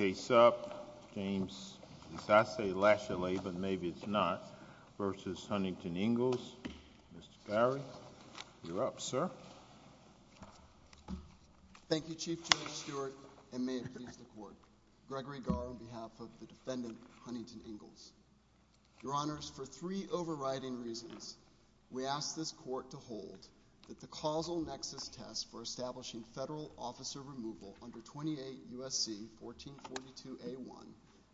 Case up, James Latiolais, but maybe it's not, v. Huntington-Ingalls, Mr. Barry. You're up, sir. Thank you, Chief Judge Stewart, and may it please the Court. Gregory Garr, on behalf of the defendant, Huntington-Ingalls. Your Honors, for three overriding reasons, we ask this Court to hold that the causal nexus test for establishing federal officer removal under 28 U.S.C. 1442A1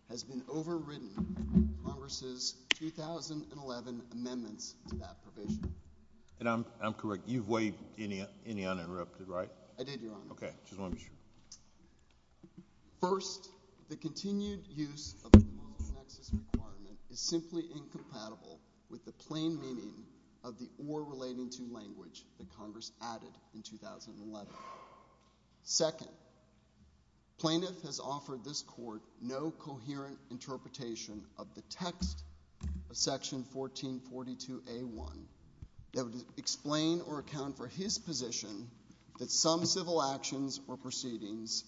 has been overridden by Congress' 2011 amendments to that provision. And I'm correct. You've waived any uninterrupted, right? I did, Your Honor. First, the continued use of the moral nexus requirement is simply incompatible with the plain meaning of the or relating to language that Congress added in 2011. Second, plaintiff has offered this Court no coherent interpretation of the text of Section 1442A1 that would explain or account for his position that some civil actions or proceedings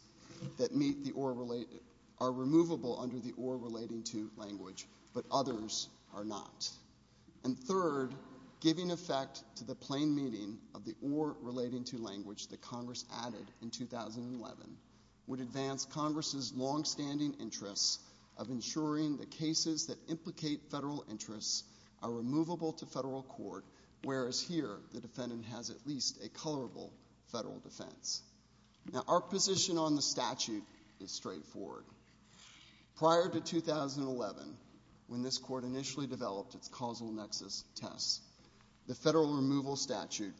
that meet the or – are removable under the or relating to language, but others are not. And third, giving effect to the plain meaning of the or relating to language that Congress added in 2011 would advance Congress' longstanding interests of ensuring that cases that implicate federal interests are removable to federal court, whereas here the defendant has at least a colorable federal defense. Now, our position on the statute is straightforward. Prior to 2011, when this Court initially developed its causal nexus test, the federal removal statute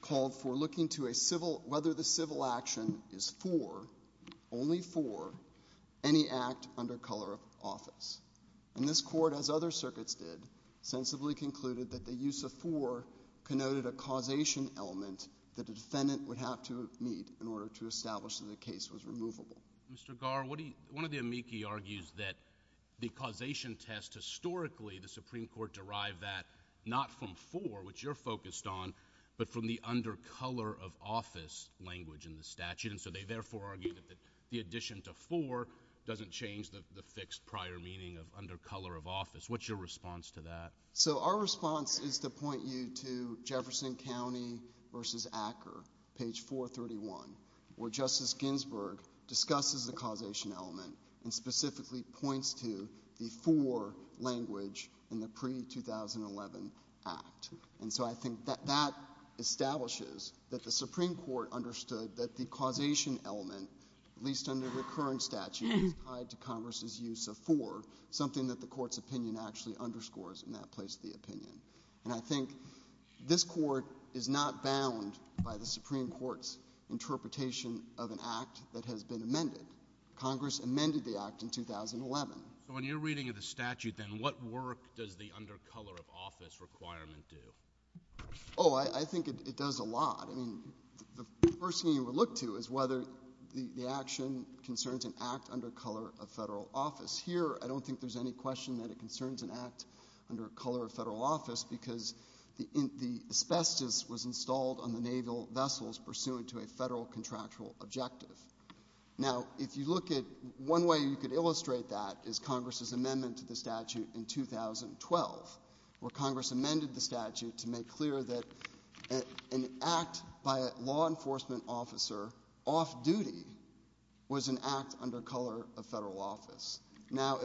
called for looking to a civil – whether the civil action is for, only for, any act under color of office. And this Court, as other circuits did, sensibly concluded that the use of for connoted a causation element that a defendant would have to meet in order to establish that a case was removable. Mr. Garr, what do you – one of the amici argues that the causation test historically, the Supreme Court derived that not from for, which you're focused on, but from the under color of office language in the statute. And so they therefore argue that the addition to for doesn't change the fixed prior meaning of under color of office. What's your response to that? So our response is to point you to Jefferson County v. Acker, page 431, where Justice Ginsburg discusses the causation element and specifically points to the for language in the pre-2011 act. And so I think that that establishes that the Supreme Court understood that the causation element, at least under the current statute, is tied to Congress' use of for, something that the Court's opinion actually underscores in that place of the opinion. And I think this Court is not bound by the Supreme Court's interpretation of an act that has been amended. Congress amended the act in 2011. So in your reading of the statute then, what work does the under color of office requirement do? Oh, I think it does a lot. I mean, the first thing you would look to is whether the action concerns an act under color of federal office. Here, I don't think there's any question that it concerns an act under color of federal office because the asbestos was installed on the naval vessels pursuant to a federal contractual objective. Now, if you look at one way you could illustrate that is Congress' amendment to the statute in 2012, where Congress amended the statute to make clear that an act by a law enforcement officer off duty was an act under color of federal office. Now,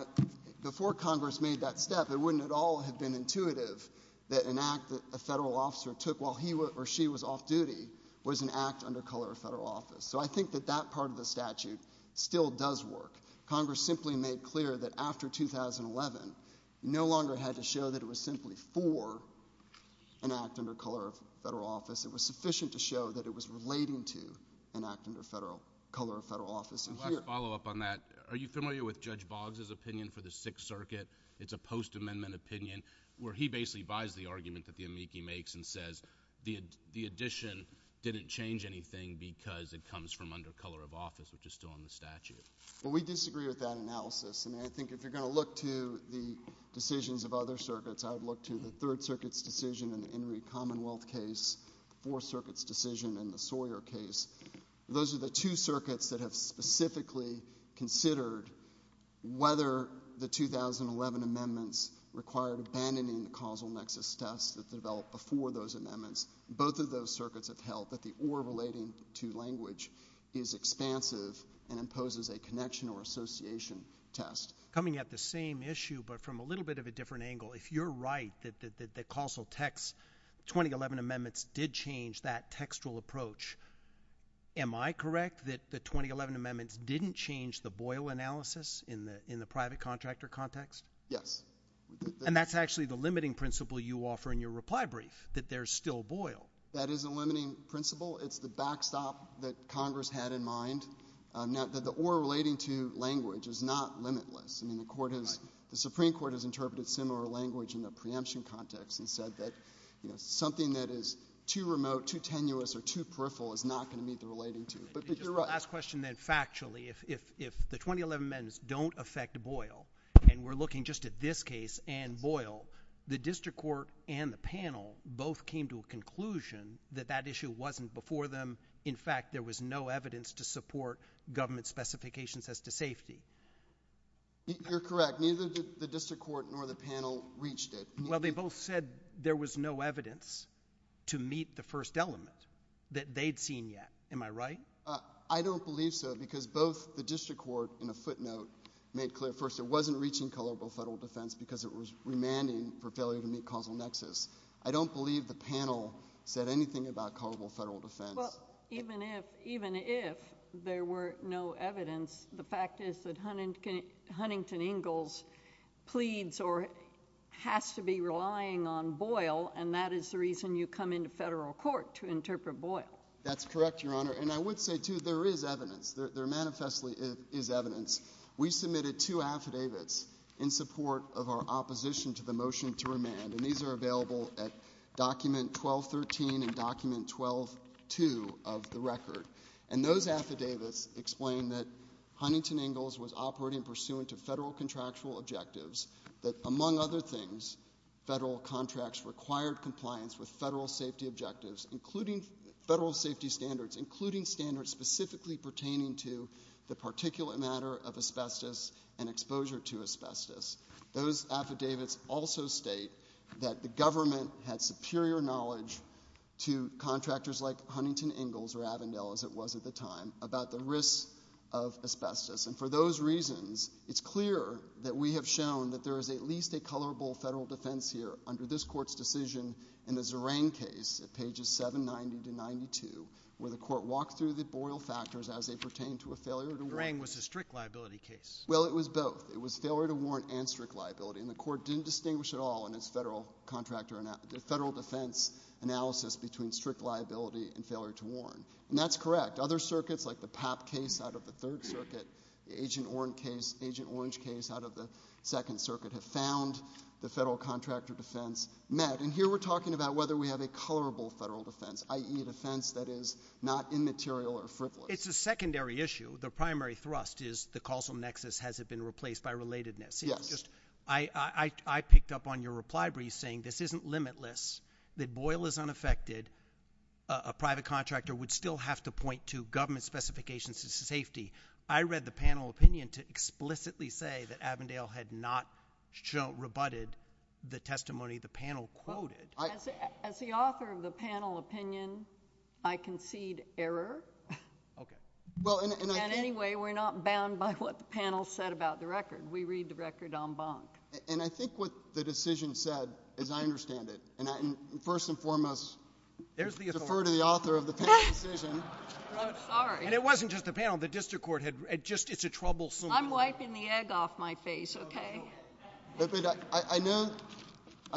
before Congress made that step, it wouldn't at all have been intuitive that an act that a federal officer took while he or she was off duty was an act under color of federal office. So I think that that part of the statute still does work. Congress simply made clear that after 2011, no longer had to show that it was simply for an act under color of federal office. It was sufficient to show that it was relating to an act under color of federal office. Last follow-up on that. Are you familiar with Judge Boggs' opinion for the Sixth Circuit? It's a post-amendment opinion where he basically buys the argument that the amici makes and says the addition didn't change anything because it comes from under color of office, which is still on the statute. Well, we disagree with that analysis. And I think if you're going to look to the decisions of other circuits, I would look to the Third Circuit's decision in the Henry Commonwealth case, Fourth Circuit's decision in the Sawyer case. Those are the two circuits that have specifically considered whether the 2011 amendments required abandoning the causal nexus test that developed before those amendments. Both of those circuits have held that the or relating to language is expansive and imposes a connection or association test. Coming at the same issue but from a little bit of a different angle, if you're right that the causal text 2011 amendments did change that textual approach, am I correct that the 2011 amendments didn't change the Boyle analysis in the private contractor context? Yes. And that's actually the limiting principle you offer in your reply brief, that there's still Boyle. That is a limiting principle. It's the backstop that Congress had in mind. Now, the or relating to language is not limitless. I mean, the Supreme Court has interpreted similar language in the preemption context and said that something that is too remote, too tenuous, or too peripheral is not going to meet the relating to. But you're right. Last question then factually. If the 2011 amendments don't affect Boyle and we're looking just at this case and Boyle, the district court and the panel both came to a conclusion that that issue wasn't before them. In fact, there was no evidence to support government specifications as to safety. You're correct. Neither did the district court nor the panel reached it. Well, they both said there was no evidence to meet the first element that they'd seen yet. Am I right? I don't believe so because both the district court in a footnote made clear first it wasn't reaching colorable federal defense because it was remanding for failure to meet causal nexus. I don't believe the panel said anything about colorable federal defense. Well, even if there were no evidence, the fact is that Huntington Ingalls pleads or has to be relying on Boyle, and that is the reason you come into federal court to interpret Boyle. That's correct, Your Honor. And I would say, too, there is evidence. There manifestly is evidence. We submitted two affidavits in support of our opposition to the motion to remand, and these are available at document 1213 and document 12-2 of the record. And those affidavits explain that Huntington Ingalls was operating pursuant to federal contractual objectives, that, among other things, federal contracts required compliance with federal safety objectives, including federal safety standards, including standards specifically pertaining to the particulate matter of asbestos and exposure to asbestos. Those affidavits also state that the government had superior knowledge to contractors like Huntington Ingalls or Avondale, as it was at the time, about the risks of asbestos. And for those reasons, it's clear that we have shown that there is at least a colorable federal defense here under this Court's decision in the Zerang case at pages 790 to 92 where the Court walked through the Boyle factors as they pertain to a failure to warrant. Zerang was a strict liability case. Well, it was both. It was failure to warrant and strict liability, and the Court didn't distinguish at all in its federal defense analysis between strict liability and failure to warrant. And that's correct. Other circuits, like the Papp case out of the Third Circuit, the Agent Orange case out of the Second Circuit, have found the federal contractor defense met. And here we're talking about whether we have a colorable federal defense, i.e. a defense that is not immaterial or frivolous. It's a secondary issue. The primary thrust is the causal nexus. Has it been replaced by relatedness? Yes. I picked up on your reply, Breeze, saying this isn't limitless, that Boyle is unaffected, a private contractor would still have to point to government specifications of safety. I read the panel opinion to explicitly say that Avondale had not rebutted the testimony the panel quoted. As the author of the panel opinion, I concede error. Okay. And anyway, we're not bound by what the panel said about the record. We read the record en banc. And I think what the decision said is I understand it. And first and foremost, defer to the author of the panel decision. I'm sorry. And it wasn't just the panel. The district court had just — it's a troublesome bill. I'm wiping the egg off my face, okay? I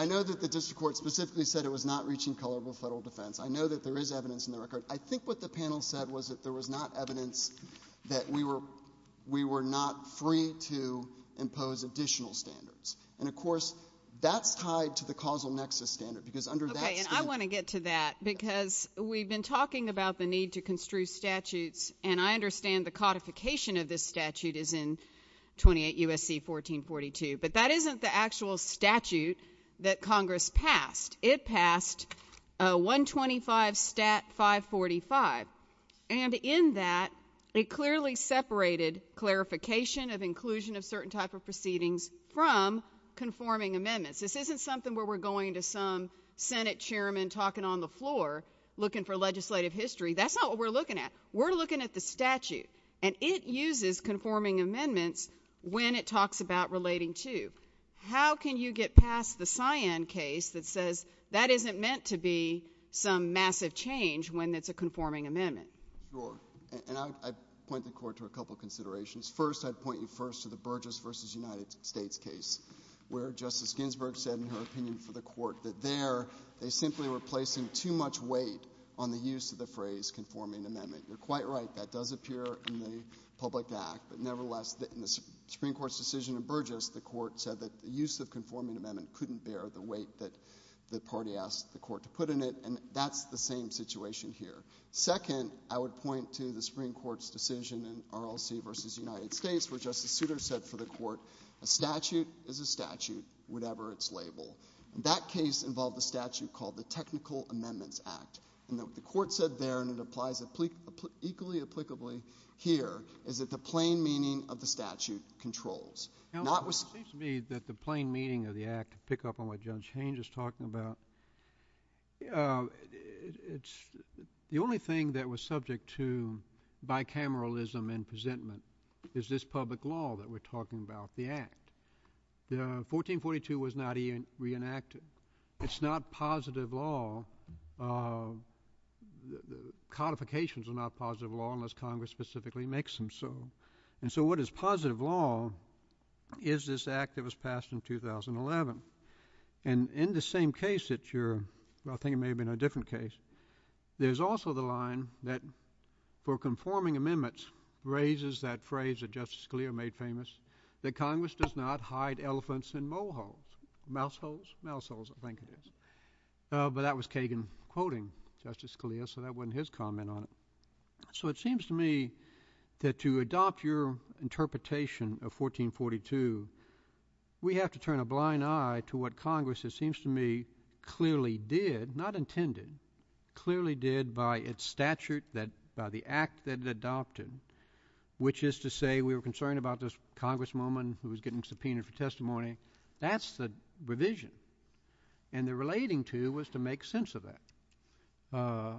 know that the district court specifically said it was not reaching colorable federal defense. I know that there is evidence in the record. I think what the panel said was that there was not evidence that we were not free to impose additional standards. And, of course, that's tied to the causal nexus standard because under that — Okay. And I want to get to that because we've been talking about the need to construe statutes. And I understand the codification of this statute is in 28 U.S.C. 1442. But that isn't the actual statute that Congress passed. It passed 125 Stat. 545. And in that, it clearly separated clarification of inclusion of certain type of proceedings from conforming amendments. This isn't something where we're going to some Senate chairman talking on the floor looking for legislative history. That's not what we're looking at. We're looking at the statute. And it uses conforming amendments when it talks about relating to. How can you get past the cyan case that says that isn't meant to be some massive change when it's a conforming amendment? Sure. And I'd point the court to a couple considerations. First, I'd point you first to the Burgess v. United States case where Justice Ginsburg said in her opinion for the court that there, they simply were placing too much weight on the use of the phrase conforming amendment. You're quite right. That does appear in the public act. But nevertheless, in the Supreme Court's decision in Burgess, the court said that the use of conforming amendment couldn't bear the weight that the party asked the court to put in it. And that's the same situation here. Second, I would point to the Supreme Court's decision in RLC v. United States where Justice Souter said for the court, a statute is a statute, whatever its label. And that case involved a statute called the Technical Amendments Act. And what the court said there, and it applies equally applicably here, is that the plain meaning of the statute controls. Now, it seems to me that the plain meaning of the act, to pick up on what Judge Haynes is talking about, it's the only thing that was subject to bicameralism in presentment is this public law that we're talking about, the act. The 1442 was not reenacted. It's not positive law. Codifications are not positive law unless Congress specifically makes them so. And so what is positive law is this act that was passed in 2011. And in the same case that you're, I think it may have been a different case, there's also the line that for conforming amendments raises that phrase that Justice Scalia made famous that Congress does not hide elephants in mole holes. Mouse holes? Mouse holes, I think it is. But that was Kagan quoting Justice Scalia, so that wasn't his comment on it. So it seems to me that to adopt your interpretation of 1442, we have to turn a blind eye to what Congress, it seems to me, clearly did, not intended, clearly did by its statute, by the act that it adopted, which is to say we were concerned about this Congresswoman who was getting subpoenaed for testimony. That's the revision. And the relating to was to make sense of that.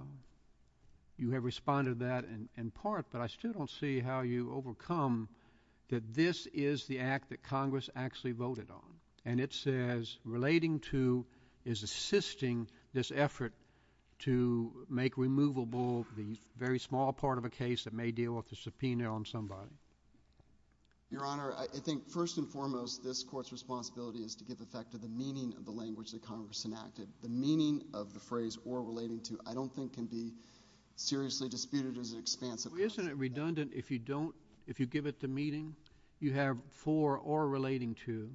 You have responded to that in part, but I still don't see how you overcome that this is the act that Congress actually voted on. And it says relating to is assisting this effort to make removable the very small part of a case that may deal with the subpoena on somebody. Your Honor, I think first and foremost, this Court's responsibility is to give effect to the meaning of the language that Congress enacted. The meaning of the phrase or relating to I don't think can be seriously disputed as an expansive question. Well, isn't it redundant if you don't, if you give it the meaning? You have for or relating to.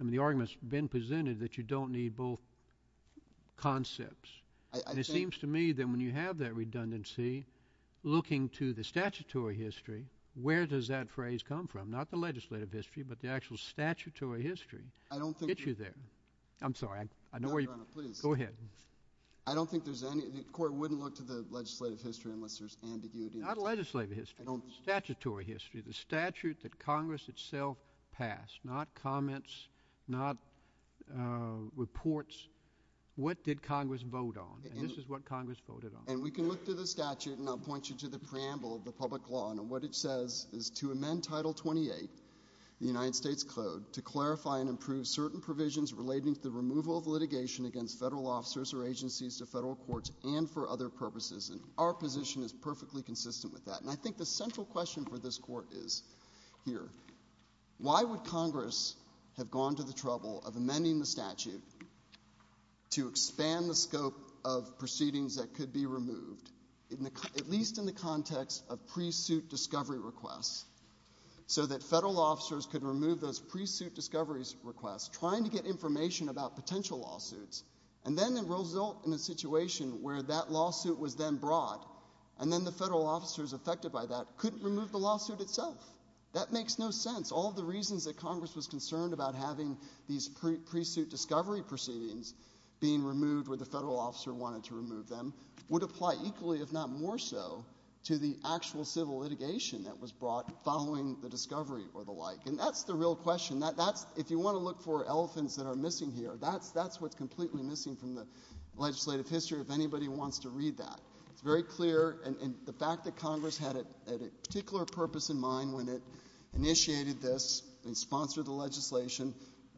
I mean the argument's been presented that you don't need both concepts. And it seems to me that when you have that redundancy, looking to the statutory history, where does that phrase come from? Not the legislative history, but the actual statutory history. I don't think. Get you there. I'm sorry. Your Honor, please. Go ahead. I don't think there's any, the Court wouldn't look to the legislative history unless there's ambiguity. Not legislative history. I don't. Statutory history. The statute that Congress itself passed. Not comments. Not reports. What did Congress vote on? And this is what Congress voted on. And we can look through the statute, and I'll point you to the preamble of the public law. And what it says is to amend Title 28, the United States Code, to clarify and improve certain provisions relating to the removal of litigation against federal officers or agencies to federal courts and for other purposes. And our position is perfectly consistent with that. And I think the central question for this Court is here, why would Congress have gone to the trouble of amending the statute to expand the scope of proceedings that could be removed, at least in the context of pre-suit discovery requests, so that federal officers could remove those pre-suit discovery requests, trying to get information about potential lawsuits, and then result in a situation where that lawsuit was then brought and then the federal officers affected by that couldn't remove the lawsuit itself? That makes no sense. All the reasons that Congress was concerned about having these pre-suit discovery proceedings being removed where the federal officer wanted to remove them would apply equally, if not more so, to the actual civil litigation that was brought following the discovery or the like. And that's the real question. If you want to look for elephants that are missing here, that's what's completely missing from the legislative history if anybody wants to read that. It's very clear. And the fact that Congress had a particular purpose in mind when it initiated this and sponsored the legislation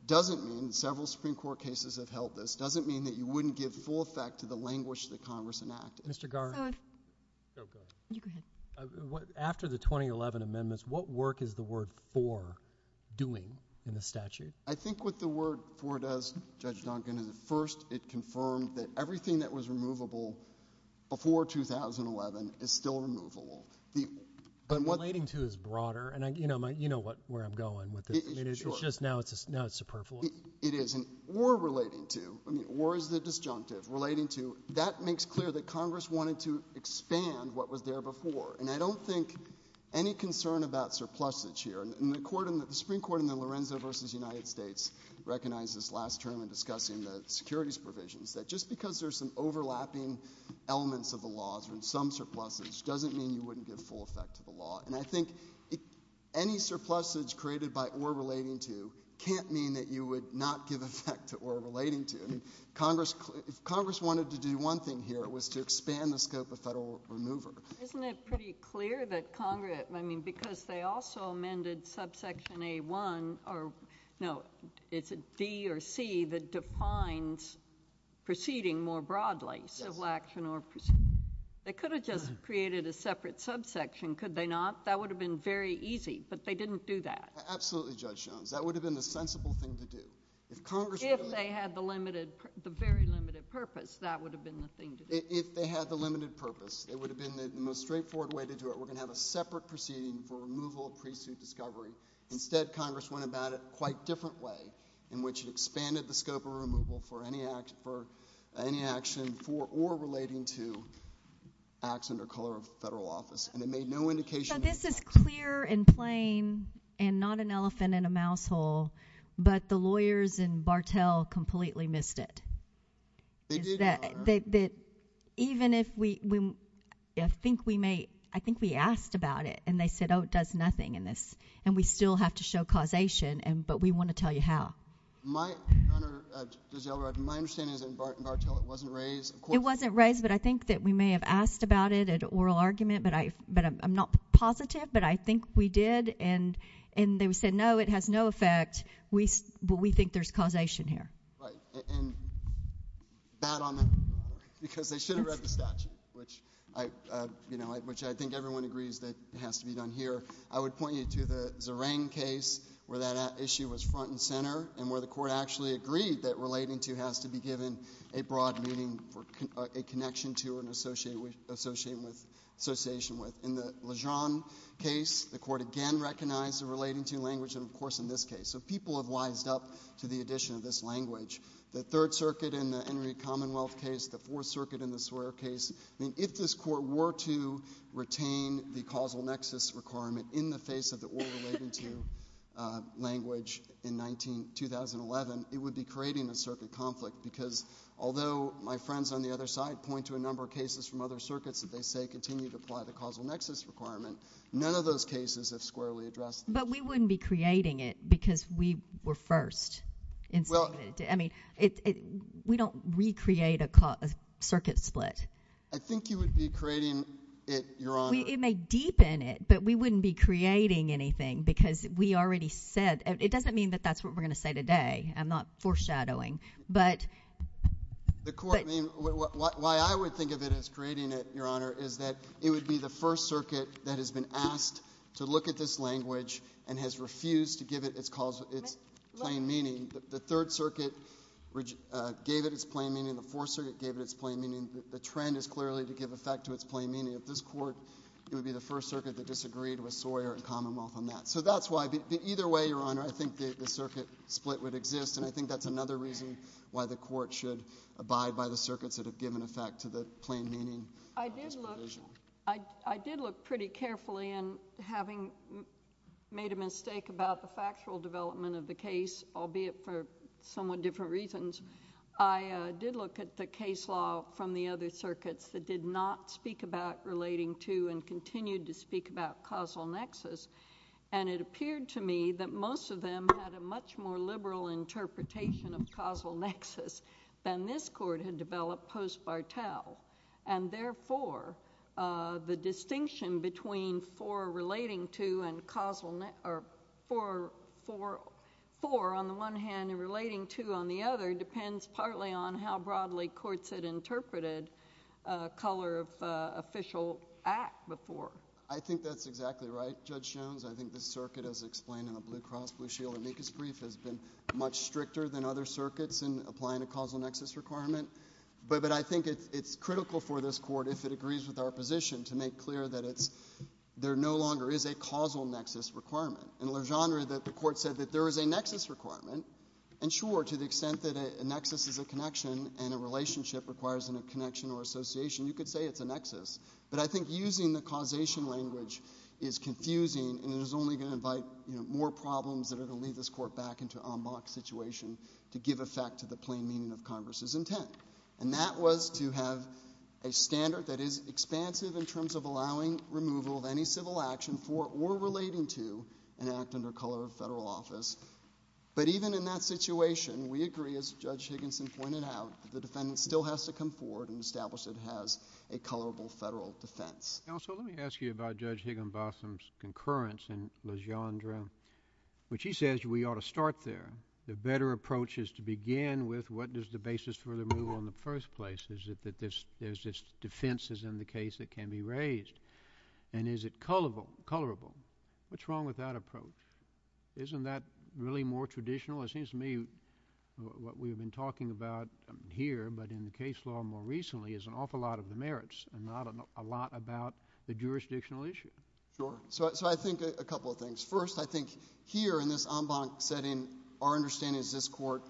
doesn't mean several Supreme Court cases have held this, doesn't mean that you wouldn't give full effect to the language that Congress enacted. Mr. Garre? Go ahead. You go ahead. After the 2011 amendments, what work is the word for doing in the statute? I think what the word for does, Judge Duncan, is at first it confirmed that everything that was removable before 2011 is still removable. But relating to is broader, and you know where I'm going with this. It's just now it's superfluous. It is. And or relating to, I mean, or is the disjunctive. Relating to, that makes clear that Congress wanted to expand what was there before. And I don't think any concern about surplusage here. And the Supreme Court in the Lorenzo v. United States recognized this last term in discussing the securities provisions, that just because there's some overlapping elements of the laws or some surplusage doesn't mean you wouldn't give full effect to the law. And I think any surplusage created by or relating to can't mean that you would not give effect to or relating to. I mean, if Congress wanted to do one thing here, it was to expand the scope of federal remover. Isn't it pretty clear that Congress, I mean, because they also amended subsection A-1, or no, it's a D or C that defines proceeding more broadly, civil action or proceeding. They could have just created a separate subsection, could they not? That would have been very easy. But they didn't do that. Absolutely, Judge Jones. That would have been the sensible thing to do. If they had the limited, the very limited purpose, that would have been the thing to do. If they had the limited purpose, it would have been the most straightforward way to do it. We're going to have a separate proceeding for removal of pre-suit discovery. Instead, Congress went about it a quite different way, in which it expanded the scope of removal for any action for or relating to acts under color of federal office. And it made no indication of effect. So this is clear and plain and not an elephant in a mouse hole, but the lawyers in Bartell completely missed it. They did, Your Honor. Even if we think we may, I think we asked about it, and they said, oh, it does nothing in this, and we still have to show causation, but we want to tell you how. My, Your Honor, Judge Elrod, my understanding is that in Bartell it wasn't raised. It wasn't raised, but I think that we may have asked about it at oral argument, but I'm not positive, but I think we did, and they said, no, it has no effect, but we think there's causation here. Right, and bad on them because they should have read the statute, which I think everyone agrees that has to be done here. I would point you to the Zerang case where that issue was front and center and where the court actually agreed that relating to has to be given a broad meaning for a connection to or an association with. In the Lejeune case, the court again recognized the relating to language, and, of course, in this case. So people have wised up to the addition of this language. The Third Circuit in the Henry Commonwealth case, the Fourth Circuit in the Swearer case, I mean, if this court were to retain the causal nexus requirement in the face of the oral relating to language in 2011, it would be creating a circuit conflict because although my friends on the other side point to a number of cases from other circuits that they say continue to apply the causal nexus requirement, none of those cases have squarely addressed. But we wouldn't be creating it because we were first. I mean, we don't recreate a circuit split. I think you would be creating it, Your Honor. It may deepen it, but we wouldn't be creating anything because we already said. It doesn't mean that that's what we're going to say today. I'm not foreshadowing. The court, I mean, why I would think of it as creating it, Your Honor, is that it would be the First Circuit that has been asked to look at this language and has refused to give it its plain meaning. The Third Circuit gave it its plain meaning. The Fourth Circuit gave it its plain meaning. The trend is clearly to give effect to its plain meaning. If this court would be the First Circuit that disagreed with Swearer and Commonwealth on that. So that's why either way, Your Honor, I think the circuit split would exist, and I think that's another reason why the court should abide by the circuits that have given effect to the plain meaning. I did look pretty carefully, and having made a mistake about the factual development of the case, albeit for somewhat different reasons, I did look at the case law from the other circuits that did not speak about relating to and continued to speak about causal nexus, and it appeared to me that most of them had a much more liberal interpretation of causal nexus than this court had developed post-Bartel. And therefore, the distinction between for relating to and for on the one hand and relating to on the other depends partly on how broadly courts had interpreted color of official act before. I think that's exactly right, Judge Jones. I think the circuit as explained in the Blue Cross Blue Shield amicus brief has been much stricter than other circuits in applying a causal nexus requirement, but I think it's critical for this court, if it agrees with our position, to make clear that there no longer is a causal nexus requirement. In Legendre, the court said that there is a nexus requirement, and sure, to the extent that a nexus is a connection and a relationship requires a connection or association, you could say it's a nexus, but I think using the causation language is confusing and is only going to invite more problems that are going to lead this court back into an en bloc situation to give effect to the plain meaning of Congress's intent. And that was to have a standard that is expansive in terms of allowing removal of any civil action for or relating to an act under color of federal office. But even in that situation, we agree, as Judge Higginson pointed out, that the defendant still has to come forward and establish that it has a colorable federal defense. Counsel, let me ask you about Judge Higginbosom's concurrence in Legendre, which he says we ought to start there. The better approach is to begin with what is the basis for removal in the first place? Is it that there's defenses in the case that can be raised? And is it colorable? What's wrong with that approach? Isn't that really more traditional? It seems to me what we've been talking about here, but in the case law more recently, is an awful lot of the merits and not a lot about the jurisdictional issue. Sure. So I think a couple of things. First, I think here in this en banc setting, our understanding is this court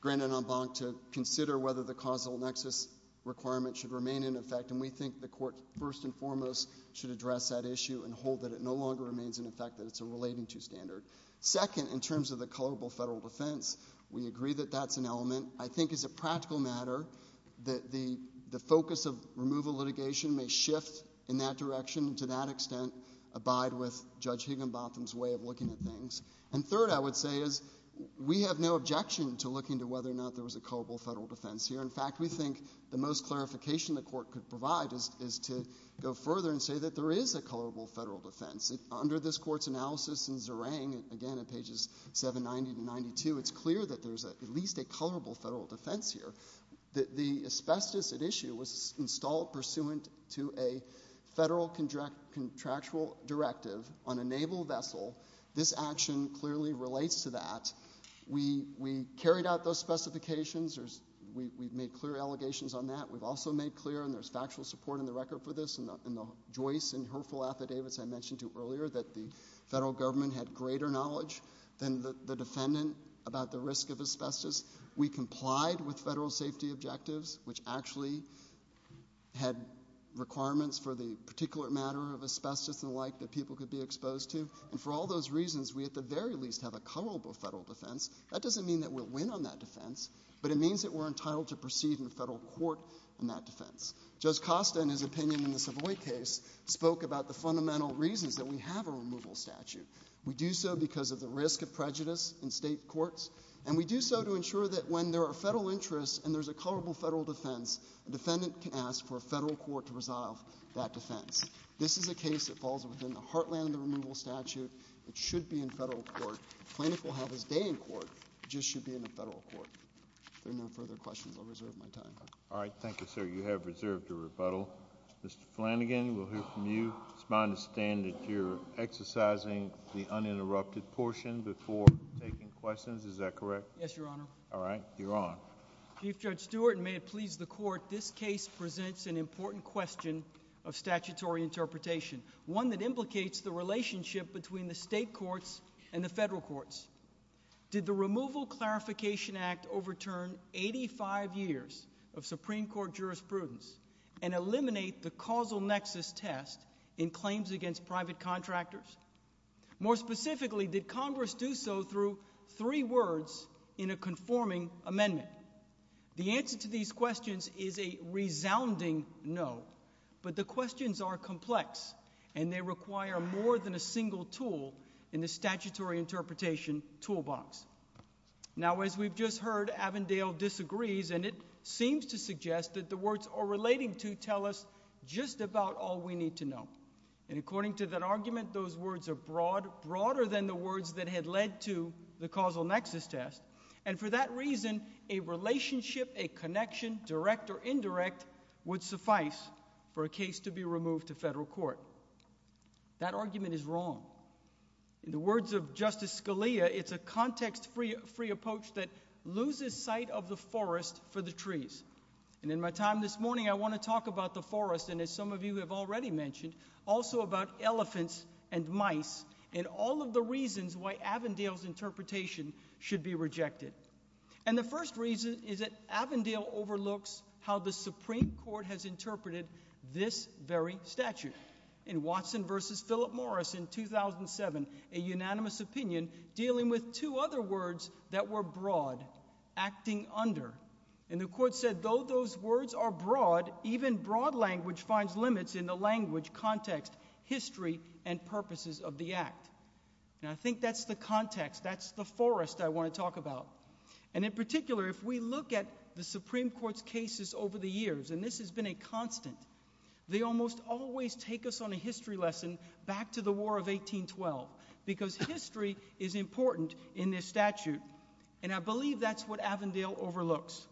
granted en banc to consider whether the causal nexus requirement should remain in effect, and we think the court first and foremost should address that issue and hold that it no longer remains in effect, that it's a relating to standard. Second, in terms of the colorable federal defense, we agree that that's an element. I think it's a practical matter that the focus of removal litigation may shift in that direction and to that extent abide with Judge Higginbotham's way of looking at things. And third, I would say is we have no objection to looking to whether or not there was a colorable federal defense here. In fact, we think the most clarification the court could provide is to go further and say that there is a colorable federal defense. Under this court's analysis in Zerang, again at pages 790 to 92, it's clear that there's at least a colorable federal defense here. The asbestos at issue was installed pursuant to a federal contractual directive on a naval vessel. This action clearly relates to that. We carried out those specifications. We've made clear allegations on that. We've also made clear, and there's factual support in the record for this, in the Joyce and Herfel affidavits I mentioned to you earlier, that the federal government had greater knowledge than the defendant about the risk of asbestos. We complied with federal safety objectives, which actually had requirements for the particular matter of asbestos and the like that people could be exposed to. And for all those reasons, we at the very least have a colorable federal defense. That doesn't mean that we'll win on that defense, but it means that we're entitled to proceed in federal court on that defense. Judge Costa, in his opinion in the Savoy case, spoke about the fundamental reasons that we have a removal statute. We do so because of the risk of prejudice in state courts, and we do so to ensure that when there are federal interests and there's a colorable federal defense, a defendant can ask for a federal court to resolve that defense. This is a case that falls within the heartland of the removal statute. It should be in federal court. The plaintiff will have his day in court. It just should be in a federal court. If there are no further questions, I'll reserve my time. All right. Thank you, sir. You have reserved your rebuttal. Mr. Flanagan, we'll hear from you. It's my understanding that you're exercising the uninterrupted portion before taking questions. Is that correct? Yes, Your Honor. All right. You're on. Chief Judge Stewart, and may it please the Court, this case presents an important question of statutory interpretation, one that implicates the relationship between the state courts and the federal courts. Did the Removal Clarification Act overturn 85 years of Supreme Court jurisprudence and eliminate the causal nexus test in claims against private contractors? More specifically, did Congress do so through three words in a conforming amendment? The answer to these questions is a resounding no, but the questions are complex, and they require more than a single tool in the statutory interpretation toolbox. Now, as we've just heard, Avondale disagrees, and it seems to suggest that the words are relating to tell us just about all we need to know. And according to that argument, those words are broader than the words that had led to the causal nexus test. And for that reason, a relationship, a connection, direct or indirect, would suffice for a case to be removed to federal court. That argument is wrong. In the words of Justice Scalia, it's a context-free approach that loses sight of the forest for the trees. And in my time this morning, I want to talk about the forest, and as some of you have already mentioned, also about elephants and mice and all of the reasons why Avondale's interpretation should be rejected. And the first reason is that Avondale overlooks how the Supreme Court has interpreted this very statute. In Watson v. Philip Morris in 2007, a unanimous opinion dealing with two other words that were broad, acting under. And the court said, though those words are broad, even broad language finds limits in the language, context, history, and purposes of the act. And I think that's the context, that's the forest I want to talk about. And in particular, if we look at the Supreme Court's cases over the years, and this has been a constant, they almost always take us on a history lesson back to the War of 1812 because history is important in this statute. And I believe that's what Avondale overlooks.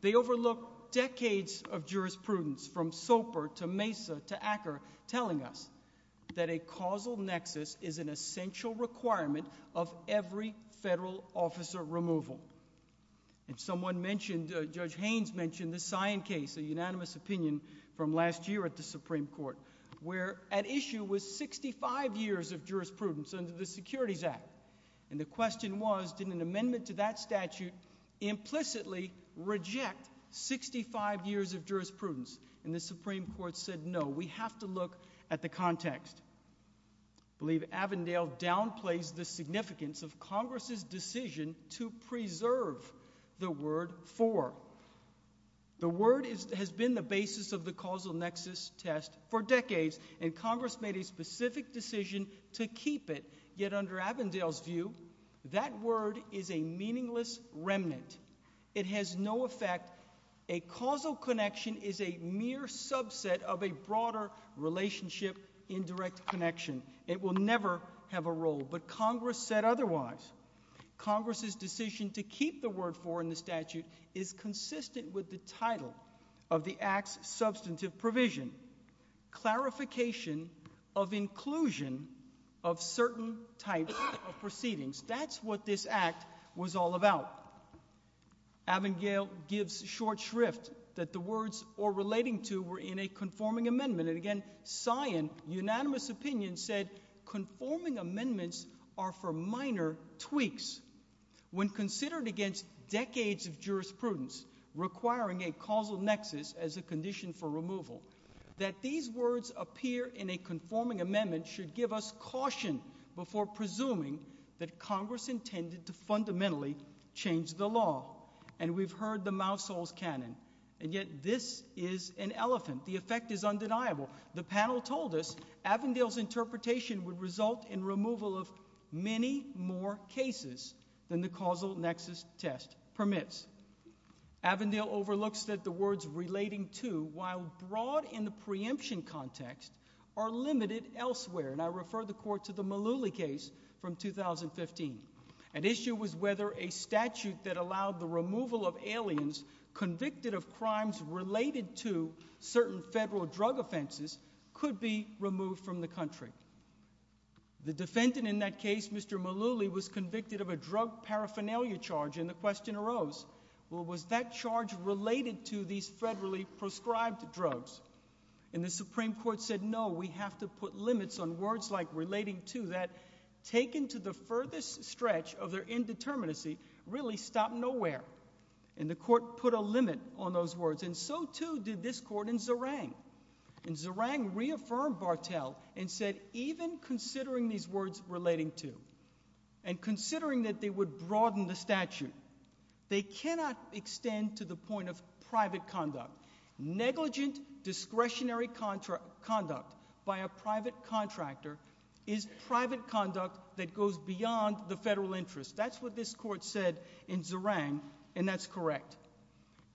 They overlook decades of jurisprudence from Soper to Mesa to Acker telling us that a causal nexus is an essential requirement of every federal officer removal. And someone mentioned, Judge Haynes mentioned the Scion case, a unanimous opinion from last year at the Supreme Court, where at issue was 65 years of jurisprudence under the Securities Act. And the question was, did an amendment to that statute implicitly reject 65 years of jurisprudence? And the Supreme Court said, no, we have to look at the context. I believe Avondale downplays the significance of Congress' decision to preserve the word for. The word has been the basis of the causal nexus test for decades, and Congress made a specific decision to keep it. Yet under Avondale's view, that word is a meaningless remnant. It has no effect. A causal connection is a mere subset of a broader relationship in direct connection. It will never have a role. But Congress said otherwise. Congress' decision to keep the word for in the statute is consistent with the title of the act's substantive provision, clarification of inclusion of certain types of proceedings. That's what this act was all about. Avondale gives short shrift that the words, or relating to, were in a conforming amendment. And again, Sion, unanimous opinion, said conforming amendments are for minor tweaks. When considered against decades of jurisprudence, requiring a causal nexus as a condition for removal, that these words appear in a conforming amendment should give us caution before presuming that Congress intended to fundamentally change the law. And we've heard the mousehole's canon. And yet this is an elephant. The effect is undeniable. The panel told us Avondale's interpretation would result in removal of many more cases than the causal nexus test permits. Avondale overlooks that the words relating to, while broad in the preemption context, are limited elsewhere. And I refer the court to the Mullooly case from 2015. An issue was whether a statute that allowed the removal of aliens convicted of crimes related to certain federal drug offenses could be removed from the country. The defendant in that case, Mr. Mullooly, was convicted of a drug paraphernalia charge, and the question arose, well, was that charge related to these federally prescribed drugs? And the Supreme Court said, no, we have to put limits on words like relating to that, taken to the furthest stretch of their indeterminacy, really stop nowhere. And the court put a limit on those words, and so, too, did this court in Zerang. And Zerang reaffirmed Bartel and said, even considering these words relating to, and considering that they would broaden the statute, they cannot extend to the point of private conduct. Negligent discretionary conduct by a private contractor is private conduct that goes beyond the federal interest. That's what this court said in Zerang, and that's correct.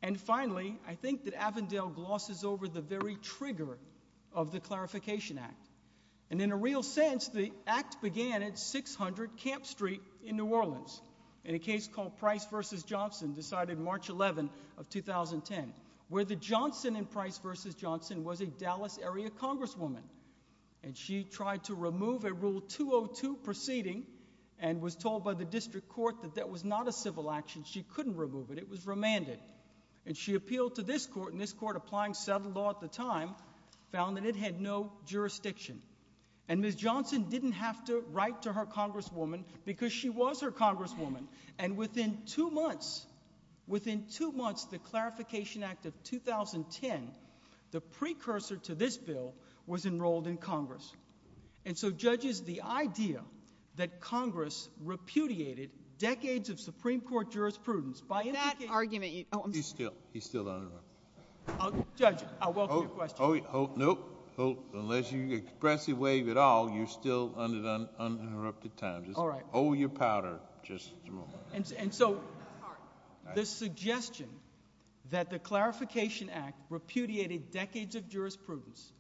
And finally, I think that Avondale glosses over the very trigger of the Clarification Act. And in a real sense, the act began at 600 Camp Street in New Orleans, in a case called Price v. Johnson, decided March 11 of 2010, where the Johnson in Price v. Johnson was a Dallas area congresswoman. And she tried to remove a Rule 202 proceeding and was told by the district court that that was not a civil action. She couldn't remove it. It was remanded. And she appealed to this court, and this court, applying settled law at the time, found that it had no jurisdiction. And Ms. Johnson didn't have to write to her congresswoman because she was her congresswoman. And within two months, within two months, the Clarification Act of 2010, the precursor to this bill, was enrolled in Congress. And so, judges, the idea that Congress repudiated decades of Supreme Court jurisprudence by indicating— That argument— He's still, he's still on the run. Judge, I welcome your question. Oh, nope. Unless you expressly waive it all, you're still under uninterrupted time. Just hold your powder just a moment. And so, the suggestion that the Clarification Act repudiated decades of jurisprudence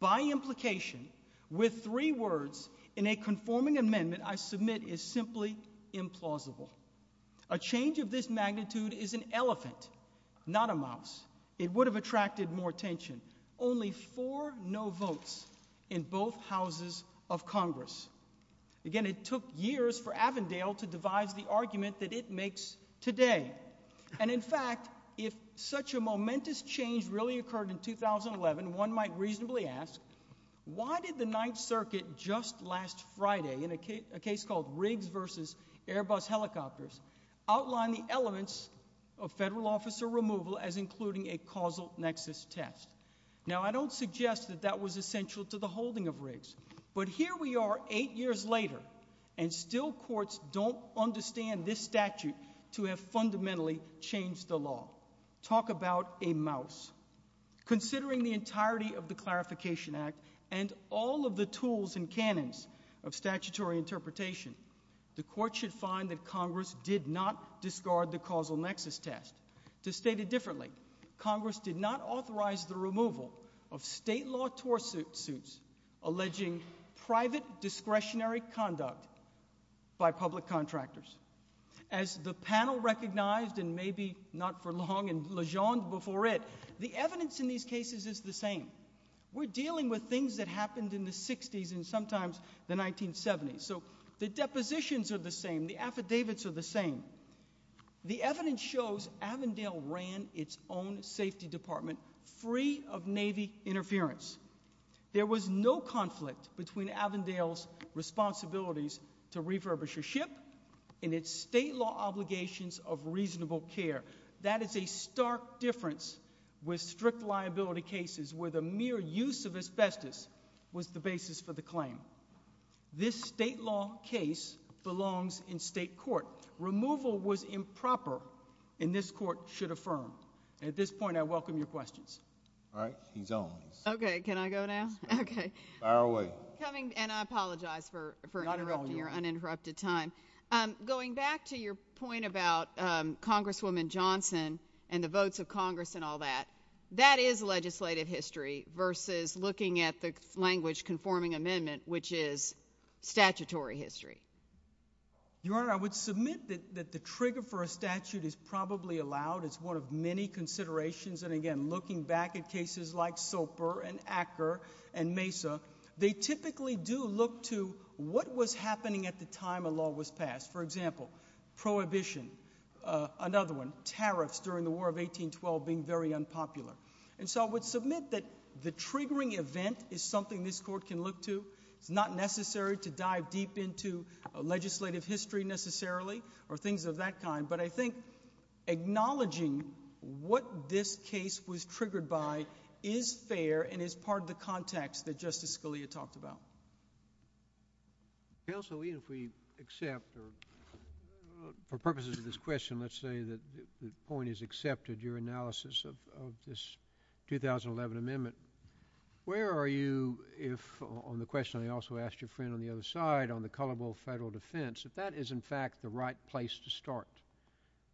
by implication, with three words in a conforming amendment I submit is simply implausible. A change of this magnitude is an elephant, not a mouse. It would have attracted more attention. Only four no votes in both houses of Congress. Again, it took years for Avondale to devise the argument that it makes today. And in fact, if such a momentous change really occurred in 2011, one might reasonably ask, why did the Ninth Circuit just last Friday, in a case called Riggs v. Airbus Helicopters, outline the elements of federal officer removal as including a causal nexus test? Now, I don't suggest that that was essential to the holding of Riggs. But here we are, eight years later, and still courts don't understand this statute to have fundamentally changed the law. Talk about a mouse. Considering the entirety of the Clarification Act and all of the tools and canons of statutory interpretation, the court should find that Congress did not discard the causal nexus test. To state it differently, Congress did not authorize the removal of state law torsuit suits alleging private discretionary conduct by public contractors. As the panel recognized, and maybe not for long, and legend before it, the evidence in these cases is the same. We're dealing with things that happened in the 60s and sometimes the 1970s. So the depositions are the same. The affidavits are the same. The evidence shows Avondale ran its own safety department free of Navy interference. There was no conflict between Avondale's responsibilities to refurbish a ship and its state law obligations of reasonable care. That is a stark difference with strict liability cases where the mere use of asbestos was the basis for the claim. This state law case belongs in state court. Removal was improper, and this court should affirm. At this point, I welcome your questions. All right. He's on. Okay. Can I go now? Okay. Fire away. And I apologize for interrupting your uninterrupted time. Going back to your point about Congresswoman Johnson and the votes of Congress and all that, that is legislative history versus looking at the language conforming amendment, which is statutory history. Your Honor, I would submit that the trigger for a statute is probably allowed. It's one of many considerations. And, again, looking back at cases like Soper and Acker and Mesa, they typically do look to what was happening at the time a law was passed. For example, prohibition, another one, tariffs during the War of 1812 being very unpopular. And so I would submit that the triggering event is something this court can look to. It's not necessary to dive deep into legislative history necessarily or things of that kind. But I think acknowledging what this case was triggered by is fair and is part of the context that Justice Scalia talked about. Counsel, even if we accept, for purposes of this question, let's say that the point is accepted, your analysis of this 2011 amendment, where are you if, on the question I also asked your friend on the other side, on the colorable federal defense, if that is in fact the right place to start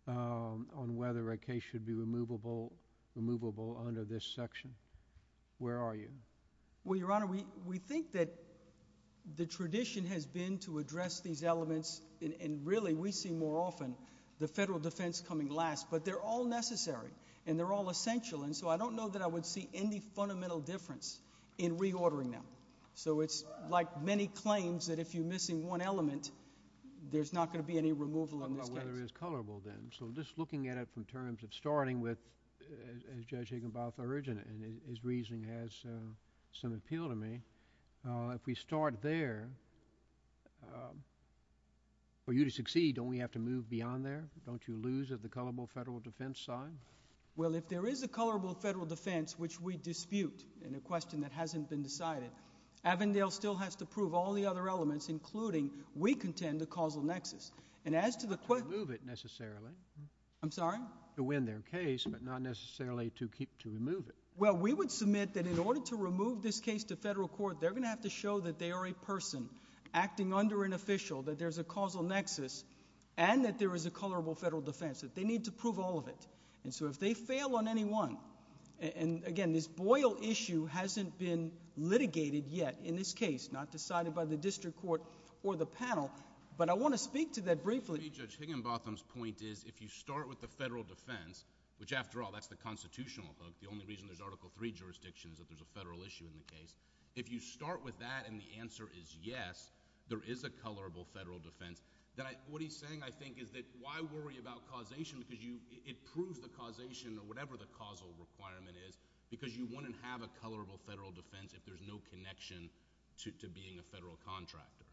on whether a case should be removable under this section? Where are you? Well, Your Honor, we think that the tradition has been to address these elements. And, really, we see more often the federal defense coming last. But they're all necessary and they're all essential. And so I don't know that I would see any fundamental difference in reordering them. So it's like many claims that if you're missing one element, there's not going to be any removal on this case. Well, there is colorable then. So just looking at it from terms of starting with, as Judge Higginbotham urged, and his reasoning has some appeal to me, if we start there, for you to succeed, don't we have to move beyond there? Don't you lose at the colorable federal defense side? Well, if there is a colorable federal defense which we dispute in a question that hasn't been decided, Avondale still has to prove all the other elements, including we contend the causal nexus. And as to the question... To remove it, necessarily. I'm sorry? To win their case, but not necessarily to remove it. Well, we would submit that in order to remove this case to federal court, they're going to have to show that they are a person acting under an official, that there's a causal nexus, and that there is a colorable federal defense, that they need to prove all of it. And so if they fail on any one, and, again, this Boyle issue hasn't been litigated yet in this case, not decided by the district court or the panel. But I want to speak to that briefly. Judge Higginbotham's point is if you start with the federal defense, which, after all, that's the constitutional book. The only reason there's Article III jurisdiction is if there's a federal issue in the case. If you start with that and the answer is yes, there is a colorable federal defense, then what he's saying, I think, is that why worry about causation because it proves the causation or whatever the causal requirement is because you wouldn't have a colorable federal defense if there's no connection to being a federal contractor.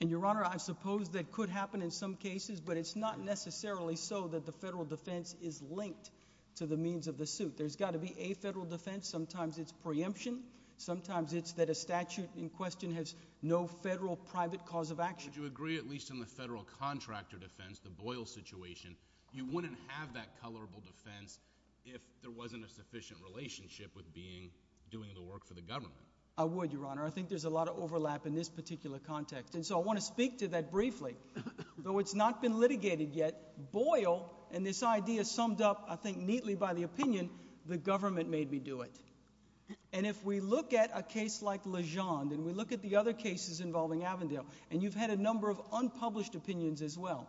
And, Your Honor, I suppose that could happen in some cases, but it's not necessarily so that the federal defense is linked to the means of the suit. There's got to be a federal defense. Sometimes it's preemption. Sometimes it's that a statute in question has no federal private cause of action. Would you agree, at least in the federal contractor defense, the Boyle situation, you wouldn't have that colorable defense if there wasn't a sufficient relationship with doing the work for the government? I would, Your Honor. I think there's a lot of overlap in this particular context, and so I want to speak to that briefly. Though it's not been litigated yet, Boyle and this idea summed up, I think, neatly by the opinion, the government made me do it. And if we look at a case like Legend and we look at the other cases involving Avondale, and you've had a number of unpublished opinions as well,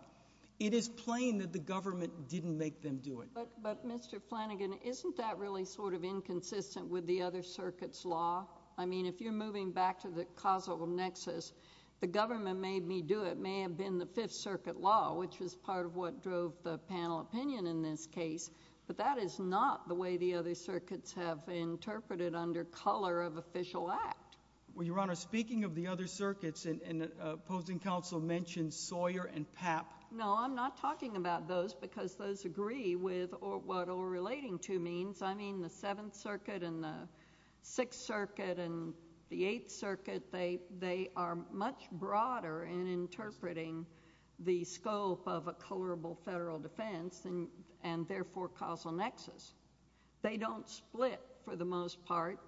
it is plain that the government didn't make them do it. But, Mr. Flanagan, isn't that really sort of inconsistent with the other circuit's law? I mean, if you're moving back to the causal nexus, the government made me do it may have been the Fifth Circuit law, which was part of what drove the panel opinion in this case, but that is not the way the other circuits have interpreted under color of official act. Well, Your Honor, speaking of the other circuits, and opposing counsel mentioned Sawyer and Papp. No, I'm not talking about those because those agree with what all relating to means. I mean, the Seventh Circuit and the Sixth Circuit and the Eighth Circuit, they are much broader in interpreting the scope of a colorable federal defense and, therefore, causal nexus. They don't split, for the most part.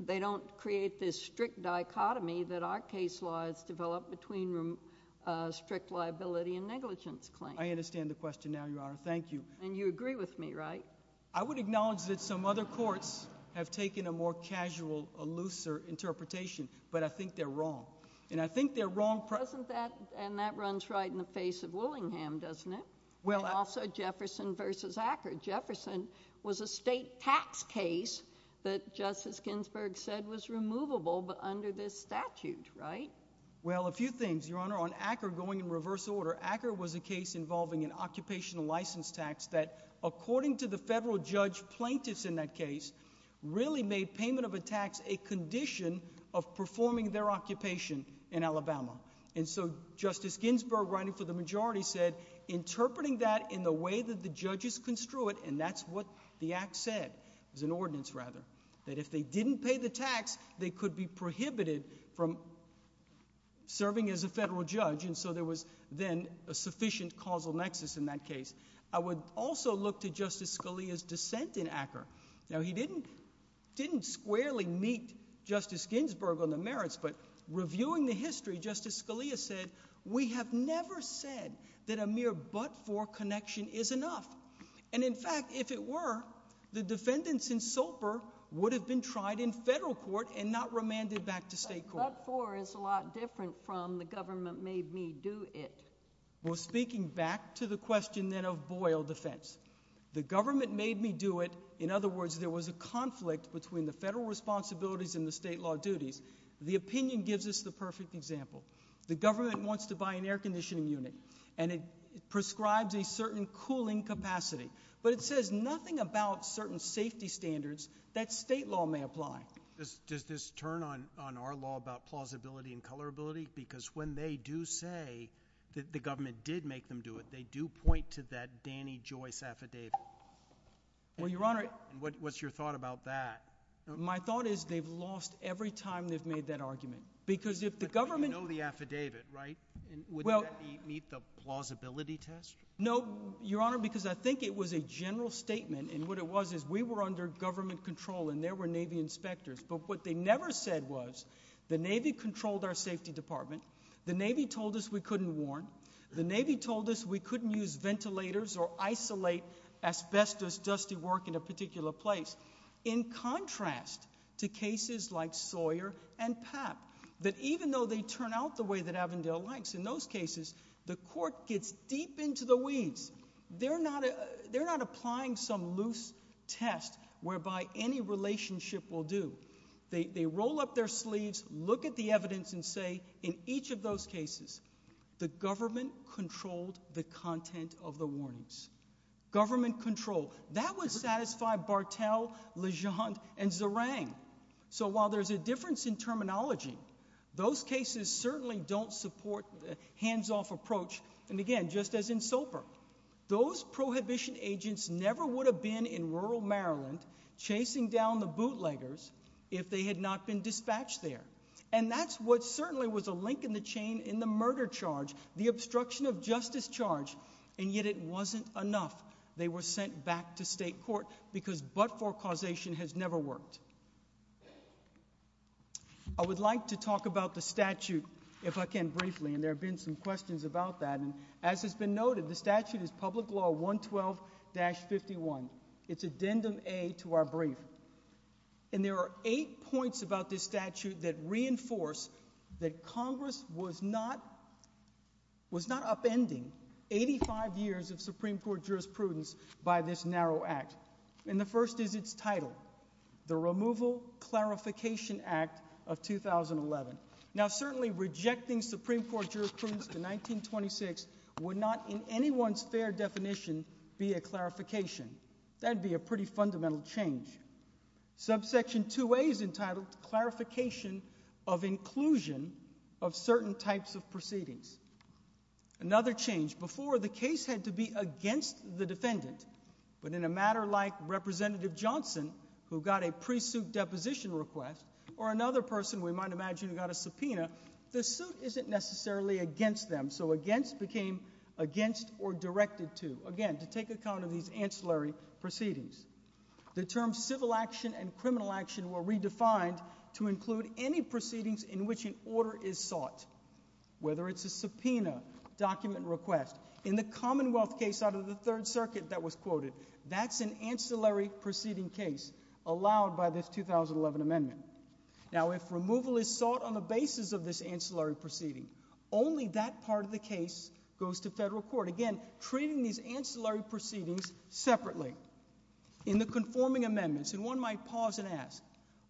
They don't create this strict dichotomy that our case laws develop between strict liability and negligence claims. I understand the question now, Your Honor. Thank you. And you agree with me, right? I would acknowledge that some other courts have taken a more casual, looser interpretation, but I think they're wrong. And I think they're wrong— And that runs right in the face of Willingham, doesn't it? And also Jefferson v. Acker. Jefferson was a state tax case that Justice Ginsburg said was removable under this statute, right? Well, a few things, Your Honor. On Acker, going in reverse order, Acker was a case involving an occupational license tax that, according to the federal judge plaintiffs in that case, really made payment of a tax a condition of performing their occupation in Alabama. And so Justice Ginsburg, running for the majority, said, interpreting that in the way that the judges construe it—and that's what the act said. It was an ordinance, rather. That if they didn't pay the tax, they could be prohibited from serving as a federal judge. And so there was then a sufficient causal nexus in that case. I would also look to Justice Scalia's dissent in Acker. Now, he didn't squarely meet Justice Ginsburg on the merits, but reviewing the history, Justice Scalia said, We have never said that a mere but-for connection is enough. And, in fact, if it were, the defendants in Sulper would have been tried in federal court and not remanded back to state court. But but-for is a lot different from the government made me do it. Well, speaking back to the question, then, of Boyle defense. The government made me do it. In other words, there was a conflict between the federal responsibilities and the state law duties. The opinion gives us the perfect example. The government wants to buy an air conditioning unit, and it prescribes a certain cooling capacity. But it says nothing about certain safety standards that state law may apply. Does this turn on our law about plausibility and colorability? Because when they do say that the government did make them do it, they do point to that Danny Joyce affidavit. Well, Your Honor. And what's your thought about that? My thought is they've lost every time they've made that argument. But you know the affidavit, right? Would that meet the plausibility test? No, Your Honor, because I think it was a general statement. And what it was is we were under government control, and there were Navy inspectors. But what they never said was the Navy controlled our safety department. The Navy told us we couldn't warn. The Navy told us we couldn't use ventilators or isolate asbestos dusty work in a particular place. In contrast to cases like Sawyer and Papp, that even though they turn out the way that Avondale likes, in those cases, the court gets deep into the weeds. They're not applying some loose test whereby any relationship will do. They roll up their sleeves, look at the evidence, and say, in each of those cases, the government controlled the content of the warnings. Government control. That would satisfy Bartel, Legendre, and Zerang. So while there's a difference in terminology, those cases certainly don't support the hands-off approach, and again, just as in Soper. Those prohibition agents never would have been in rural Maryland chasing down the bootleggers if they had not been dispatched there. And that's what certainly was a link in the chain in the murder charge, the obstruction of justice charge, and yet it wasn't enough. They were sent back to state court because but-for causation has never worked. I would like to talk about the statute, if I can, briefly, and there have been some questions about that. As has been noted, the statute is Public Law 112-51. It's Addendum A to our brief. And there are eight points about this statute that reinforce that Congress was not upending 85 years of Supreme Court jurisprudence by this narrow act. And the first is its title, the Removal Clarification Act of 2011. Now, certainly rejecting Supreme Court jurisprudence to 1926 would not, in anyone's fair definition, be a clarification. That would be a pretty fundamental change. Subsection 2A is entitled Clarification of Inclusion of Certain Types of Proceedings. Another change. Before, the case had to be against the defendant. But in a matter like Representative Johnson, who got a pre-suit deposition request, or another person, we might imagine, who got a subpoena, the suit isn't necessarily against them. So against became against or directed to, again, to take account of these ancillary proceedings. The terms civil action and criminal action were redefined to include any proceedings in which an order is sought, whether it's a subpoena, document request. In the Commonwealth case out of the Third Circuit that was quoted, that's an ancillary proceeding case, allowed by this 2011 amendment. Now, if removal is sought on the basis of this ancillary proceeding, only that part of the case goes to federal court. Again, treating these ancillary proceedings separately. In the conforming amendments, and one might pause and ask,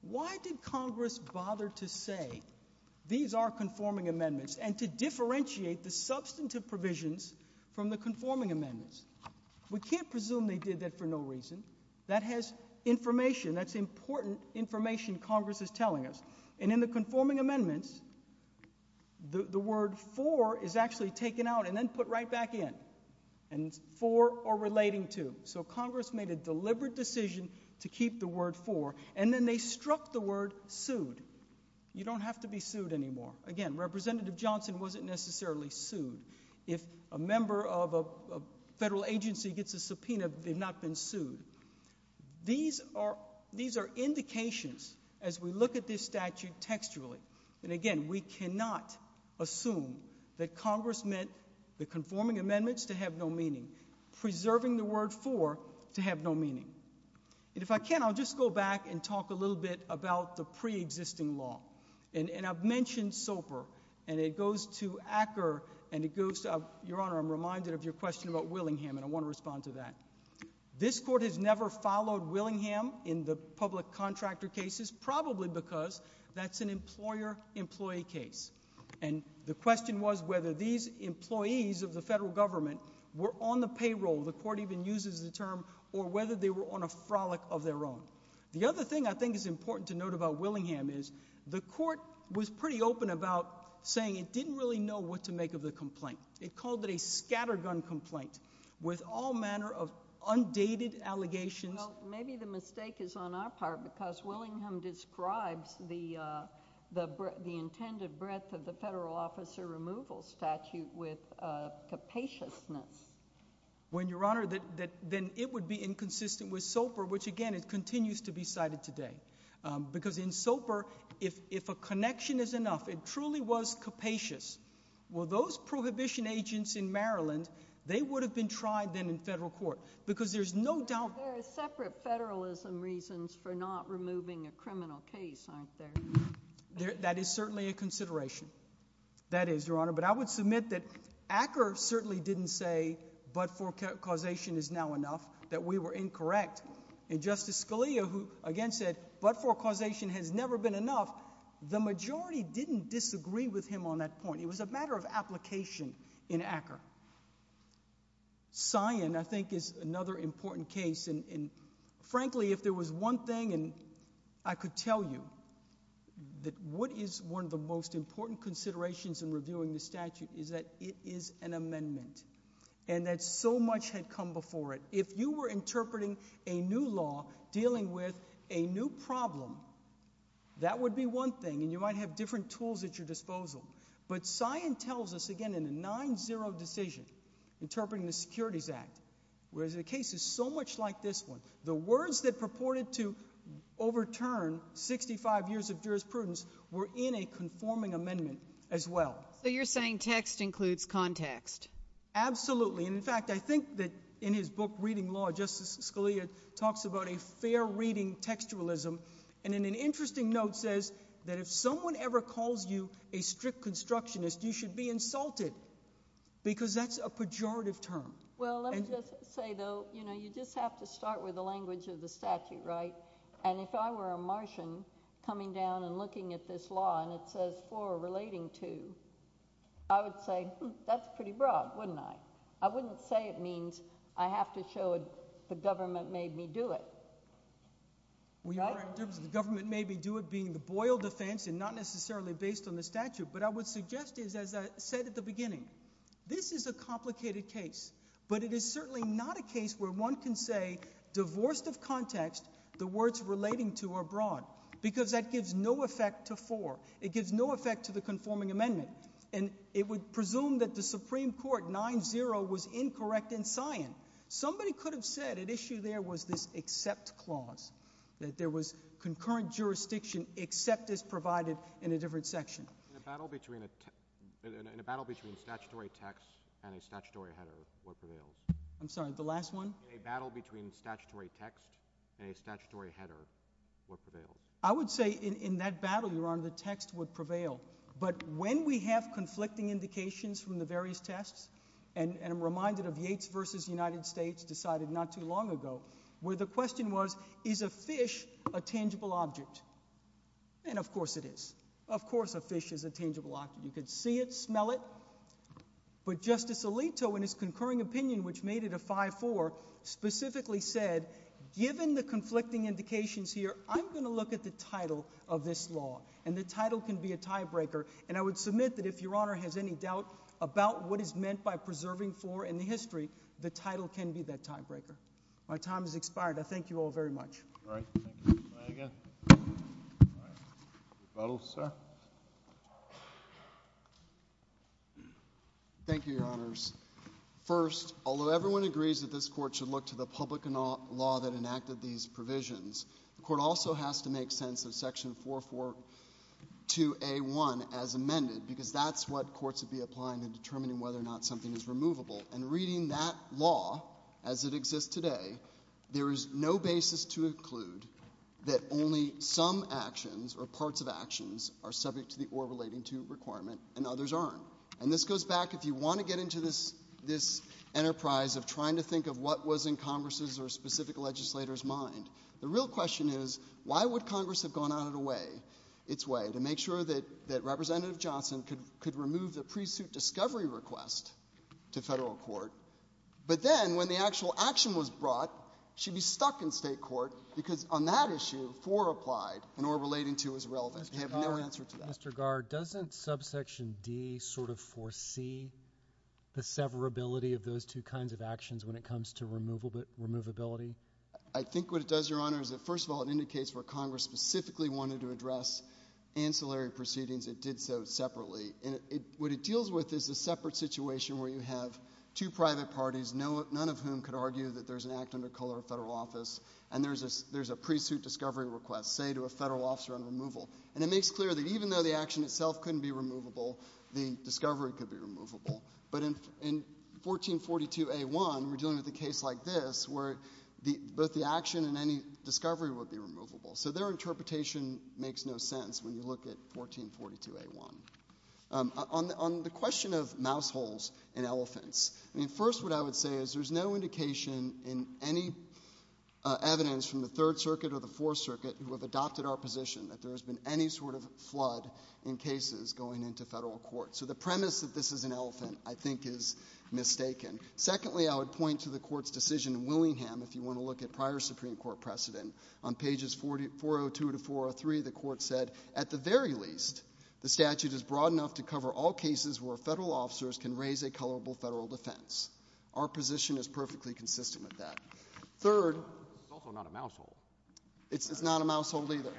why did Congress bother to say, these are conforming amendments, and to differentiate the substantive provisions from the conforming amendments? We can't presume they did that for no reason. That has information, that's important information Congress is telling us. And in the conforming amendments, the word for is actually taken out and then put right back in. And for or relating to. So Congress made a deliberate decision to keep the word for, and then they struck the word sued. You don't have to be sued anymore. Again, Representative Johnson wasn't necessarily sued. If a member of a federal agency gets a subpoena, they've not been sued. These are indications, as we look at this statute textually, and again, we cannot assume that Congress meant the conforming amendments to have no meaning. Preserving the word for to have no meaning. And if I can, I'll just go back and talk a little bit about the pre-existing law. And I've mentioned SOPR, and it goes to Acker, and it goes to, Your Honor, I'm reminded of your question about Willingham, and I want to respond to that. This court has never followed Willingham in the public contractor cases, probably because that's an employer-employee case. And the question was whether these employees of the federal government were on the payroll, the court even uses the term, or whether they were on a frolic of their own. The other thing I think is important to note about Willingham is the court was pretty open about saying it didn't really know what to make of the complaint. It called it a scattergun complaint with all manner of undated allegations. Well, maybe the mistake is on our part, because Willingham describes the intended breadth of the federal officer removal statute with capaciousness. Well, Your Honor, then it would be inconsistent with SOPR, which again, it continues to be cited today. Because in SOPR, if a connection is enough, it truly was capacious. Well, those prohibition agents in Maryland, they would have been tried then in federal court. There are separate federalism reasons for not removing a criminal case, aren't there? That is certainly a consideration. That is, Your Honor. But I would submit that Acker certainly didn't say, but for causation is now enough, that we were incorrect. And Justice Scalia, who again said, but for causation has never been enough, the majority didn't disagree with him on that point. It was a matter of application in Acker. Cyan, I think, is another important case. And frankly, if there was one thing I could tell you, that what is one of the most important considerations in reviewing the statute is that it is an amendment. And that so much had come before it. If you were interpreting a new law dealing with a new problem, that would be one thing. And you might have different tools at your disposal. But Cyan tells us, again, in the 9-0 decision, interpreting the Securities Act, where the case is so much like this one, the words that purported to overturn 65 years of jurisprudence were in a conforming amendment as well. So you're saying text includes context? Absolutely. And in fact, I think that in his book, Reading Law, Justice Scalia talks about a fair reading textualism. And in an interesting note says that if someone ever calls you a strict constructionist, you should be insulted, because that's a pejorative term. Well, let me just say, though, you know, you just have to start with the language of the statute, right? And if I were a Martian coming down and looking at this law and it says, for, relating to, I would say, hmm, that's pretty broad, wouldn't I? I wouldn't say it means I have to show the government made me do it. We are in terms of the government made me do it being the Boyle defense and not necessarily based on the statute. But I would suggest, as I said at the beginning, this is a complicated case. But it is certainly not a case where one can say, divorced of context, the words relating to are broad, because that gives no effect to for. It gives no effect to the conforming amendment. And it would presume that the Supreme Court 9-0 was incorrect in science. Somebody could have said at issue there was this except clause, that there was concurrent jurisdiction except as provided in a different section. In a battle between statutory text and a statutory header, what prevails? I'm sorry, the last one? In a battle between statutory text and a statutory header, what prevails? I would say in that battle, Your Honor, the text would prevail. But when we have conflicting indications from the various tests, and I'm reminded of Yates v. United States decided not too long ago, where the question was, is a fish a tangible object? And of course it is. Of course a fish is a tangible object. You can see it, smell it. But Justice Alito, in his concurring opinion, which made it a 5-4, specifically said, given the conflicting indications here, I'm going to look at the title of this law. And the title can be a tiebreaker. And I would submit that if Your Honor has any doubt about what is meant by preserving floor in the history, the title can be that tiebreaker. My time has expired. I thank you all very much. All right. Thank you. Go ahead again. All right. Rebuttal, sir. Thank you, Your Honors. First, although everyone agrees that this Court should look to the public law that enacted these provisions, the Court also has to make sense of Section 442A1 as amended, because that's what courts would be applying in determining whether or not something is removable. And reading that law as it exists today, there is no basis to include that only some actions or parts of actions are subject to the or relating to requirement, and others aren't. And this goes back, if you want to get into this enterprise of trying to think of what was in Congress's or a specific legislator's mind. The real question is why would Congress have gone out of the way, its way, to make sure that Representative Johnson could remove the pre-suit discovery request to federal court, but then when the actual action was brought, she'd be stuck in state court because on that issue, 4 applied and or relating to is relevant. They have no answer to that. Mr. Garr, doesn't Subsection D sort of foresee the severability of those two kinds of actions when it comes to removability? I think what it does, Your Honor, is that, first of all, it indicates where Congress specifically wanted to address ancillary proceedings. It did so separately. What it deals with is a separate situation where you have two private parties, none of whom could argue that there's an act under color of federal office, and there's a pre-suit discovery request, say, to a federal officer on removal. And it makes clear that even though the action itself couldn't be removable, the discovery could be removable. But in 1442A1, we're dealing with a case like this where both the action and any discovery would be removable. So their interpretation makes no sense when you look at 1442A1. On the question of mouse holes in elephants, first what I would say is there's no indication in any evidence from the Third Circuit or the Fourth Circuit who have adopted our position that there has been any sort of flood in cases going into federal court. So the premise that this is an elephant, I think, is mistaken. Secondly, I would point to the Court's decision in Willingham, if you want to look at prior Supreme Court precedent. On pages 402 to 403, the Court said, at the very least, the statute is broad enough to cover all cases where federal officers can raise a colorable federal defense. Our position is perfectly consistent with that. Third— It's also not a mouse hole. It's not a mouse hole either.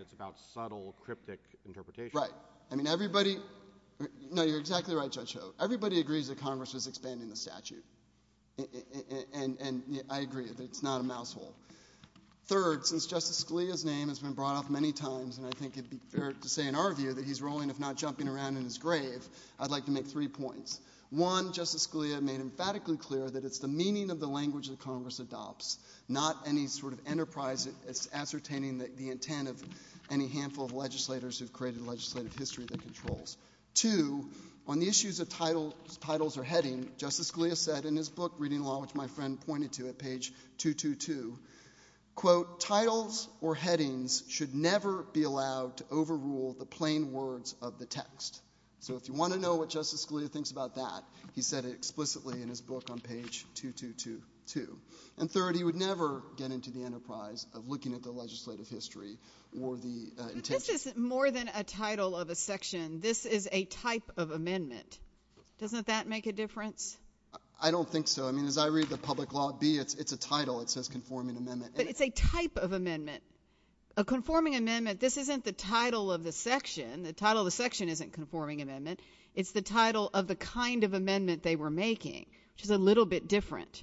It's about subtle, cryptic interpretation. Right. I mean, everybody— No, you're exactly right, Judge Hogue. Everybody agrees that Congress is expanding the statute. And I agree that it's not a mouse hole. Third, since Justice Scalia's name has been brought up many times, and I think it would be fair to say, in our view, that he's rolling, if not jumping around in his grave, I'd like to make three points. One, Justice Scalia made emphatically clear that it's the meaning of the language that Congress adopts, not any sort of enterprise ascertaining the intent of any handful of legislators who've created legislative history that controls. Two, on the issues of titles or heading, Justice Scalia said in his book, Reading Law, which my friend pointed to at page 222, quote, titles or headings should never be allowed to overrule the plain words of the text. So if you want to know what Justice Scalia thinks about that, he said it explicitly in his book on page 222. And third, he would never get into the enterprise of looking at the legislative history or the intent— But this is more than a title of a section. This is a type of amendment. Doesn't that make a difference? I don't think so. I mean, as I read the public law, B, it's a title. It says conforming amendment. But it's a type of amendment. A conforming amendment, this isn't the title of the section. The title of the section isn't conforming amendment. It's the title of the kind of amendment they were making, which is a little bit different.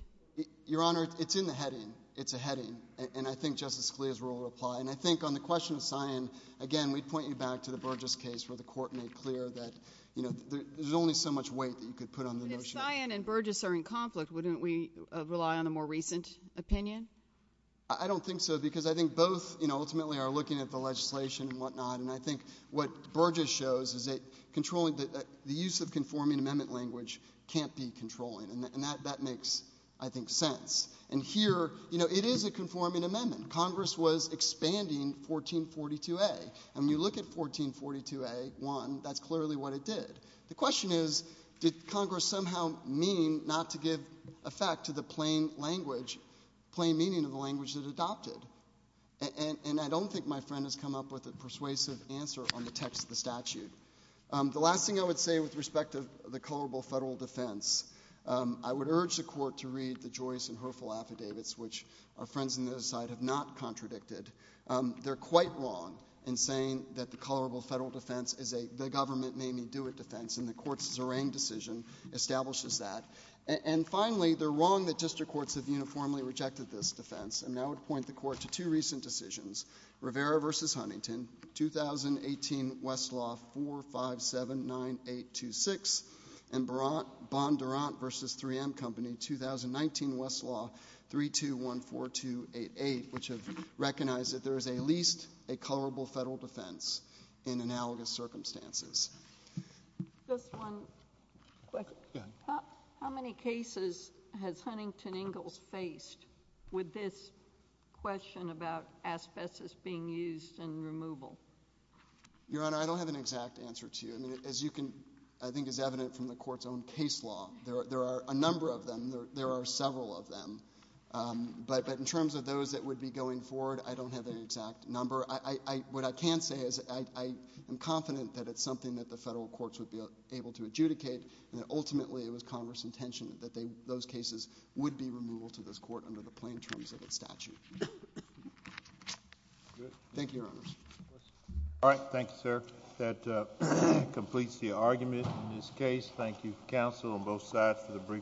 Your Honor, it's in the heading. It's a heading. And I think Justice Scalia's rule would apply. And I think on the question of Sion, again, we'd point you back to the Burgess case where the Court made clear that there's only so much weight that you could put on the notion of— But if Sion and Burgess are in conflict, wouldn't we rely on a more recent opinion? I don't think so because I think both ultimately are looking at the legislation and whatnot. And I think what Burgess shows is that the use of conforming amendment language can't be controlling. And that makes, I think, sense. And here, it is a conforming amendment. Congress was expanding 1442A. And when you look at 1442A-1, that's clearly what it did. The question is, did Congress somehow mean not to give effect to the plain language, plain meaning of the language that it adopted? And I don't think my friend has come up with a persuasive answer on the text of the statute. The last thing I would say with respect to the colorable federal defense, I would urge the Court to read the Joyce and Herfel affidavits, which our friends on the other side have not contradicted. They're quite wrong in saying that the colorable federal defense is a the-government-may-me-do-it defense, and the court's Zerang decision establishes that. And finally, they're wrong that district courts have uniformly rejected this defense. And I would point the Court to two recent decisions, Rivera v. Huntington, 2018 Westlaw 4579826, and Bondurant v. 3M Company, 2019 Westlaw 3214288, which have recognized that there is at least a colorable federal defense in analogous circumstances. Just one question. How many cases has Huntington Ingalls faced with this question about asbestos being used in removal? Your Honor, I don't have an exact answer to you. I mean, as you can... I think it's evident from the Court's own case law, there are a number of them. There are several of them. But in terms of those that would be going forward, I don't have an exact number. What I can say is I am confident that it's something that the federal courts would be able to adjudicate, and that ultimately it was Congress's intention that those cases would be removal to this Court under the plain terms of its statute. Thank you, Your Honor. All right. Thank you, sir. That completes the argument in this case. Thank you, counsel, on both sides for the briefing.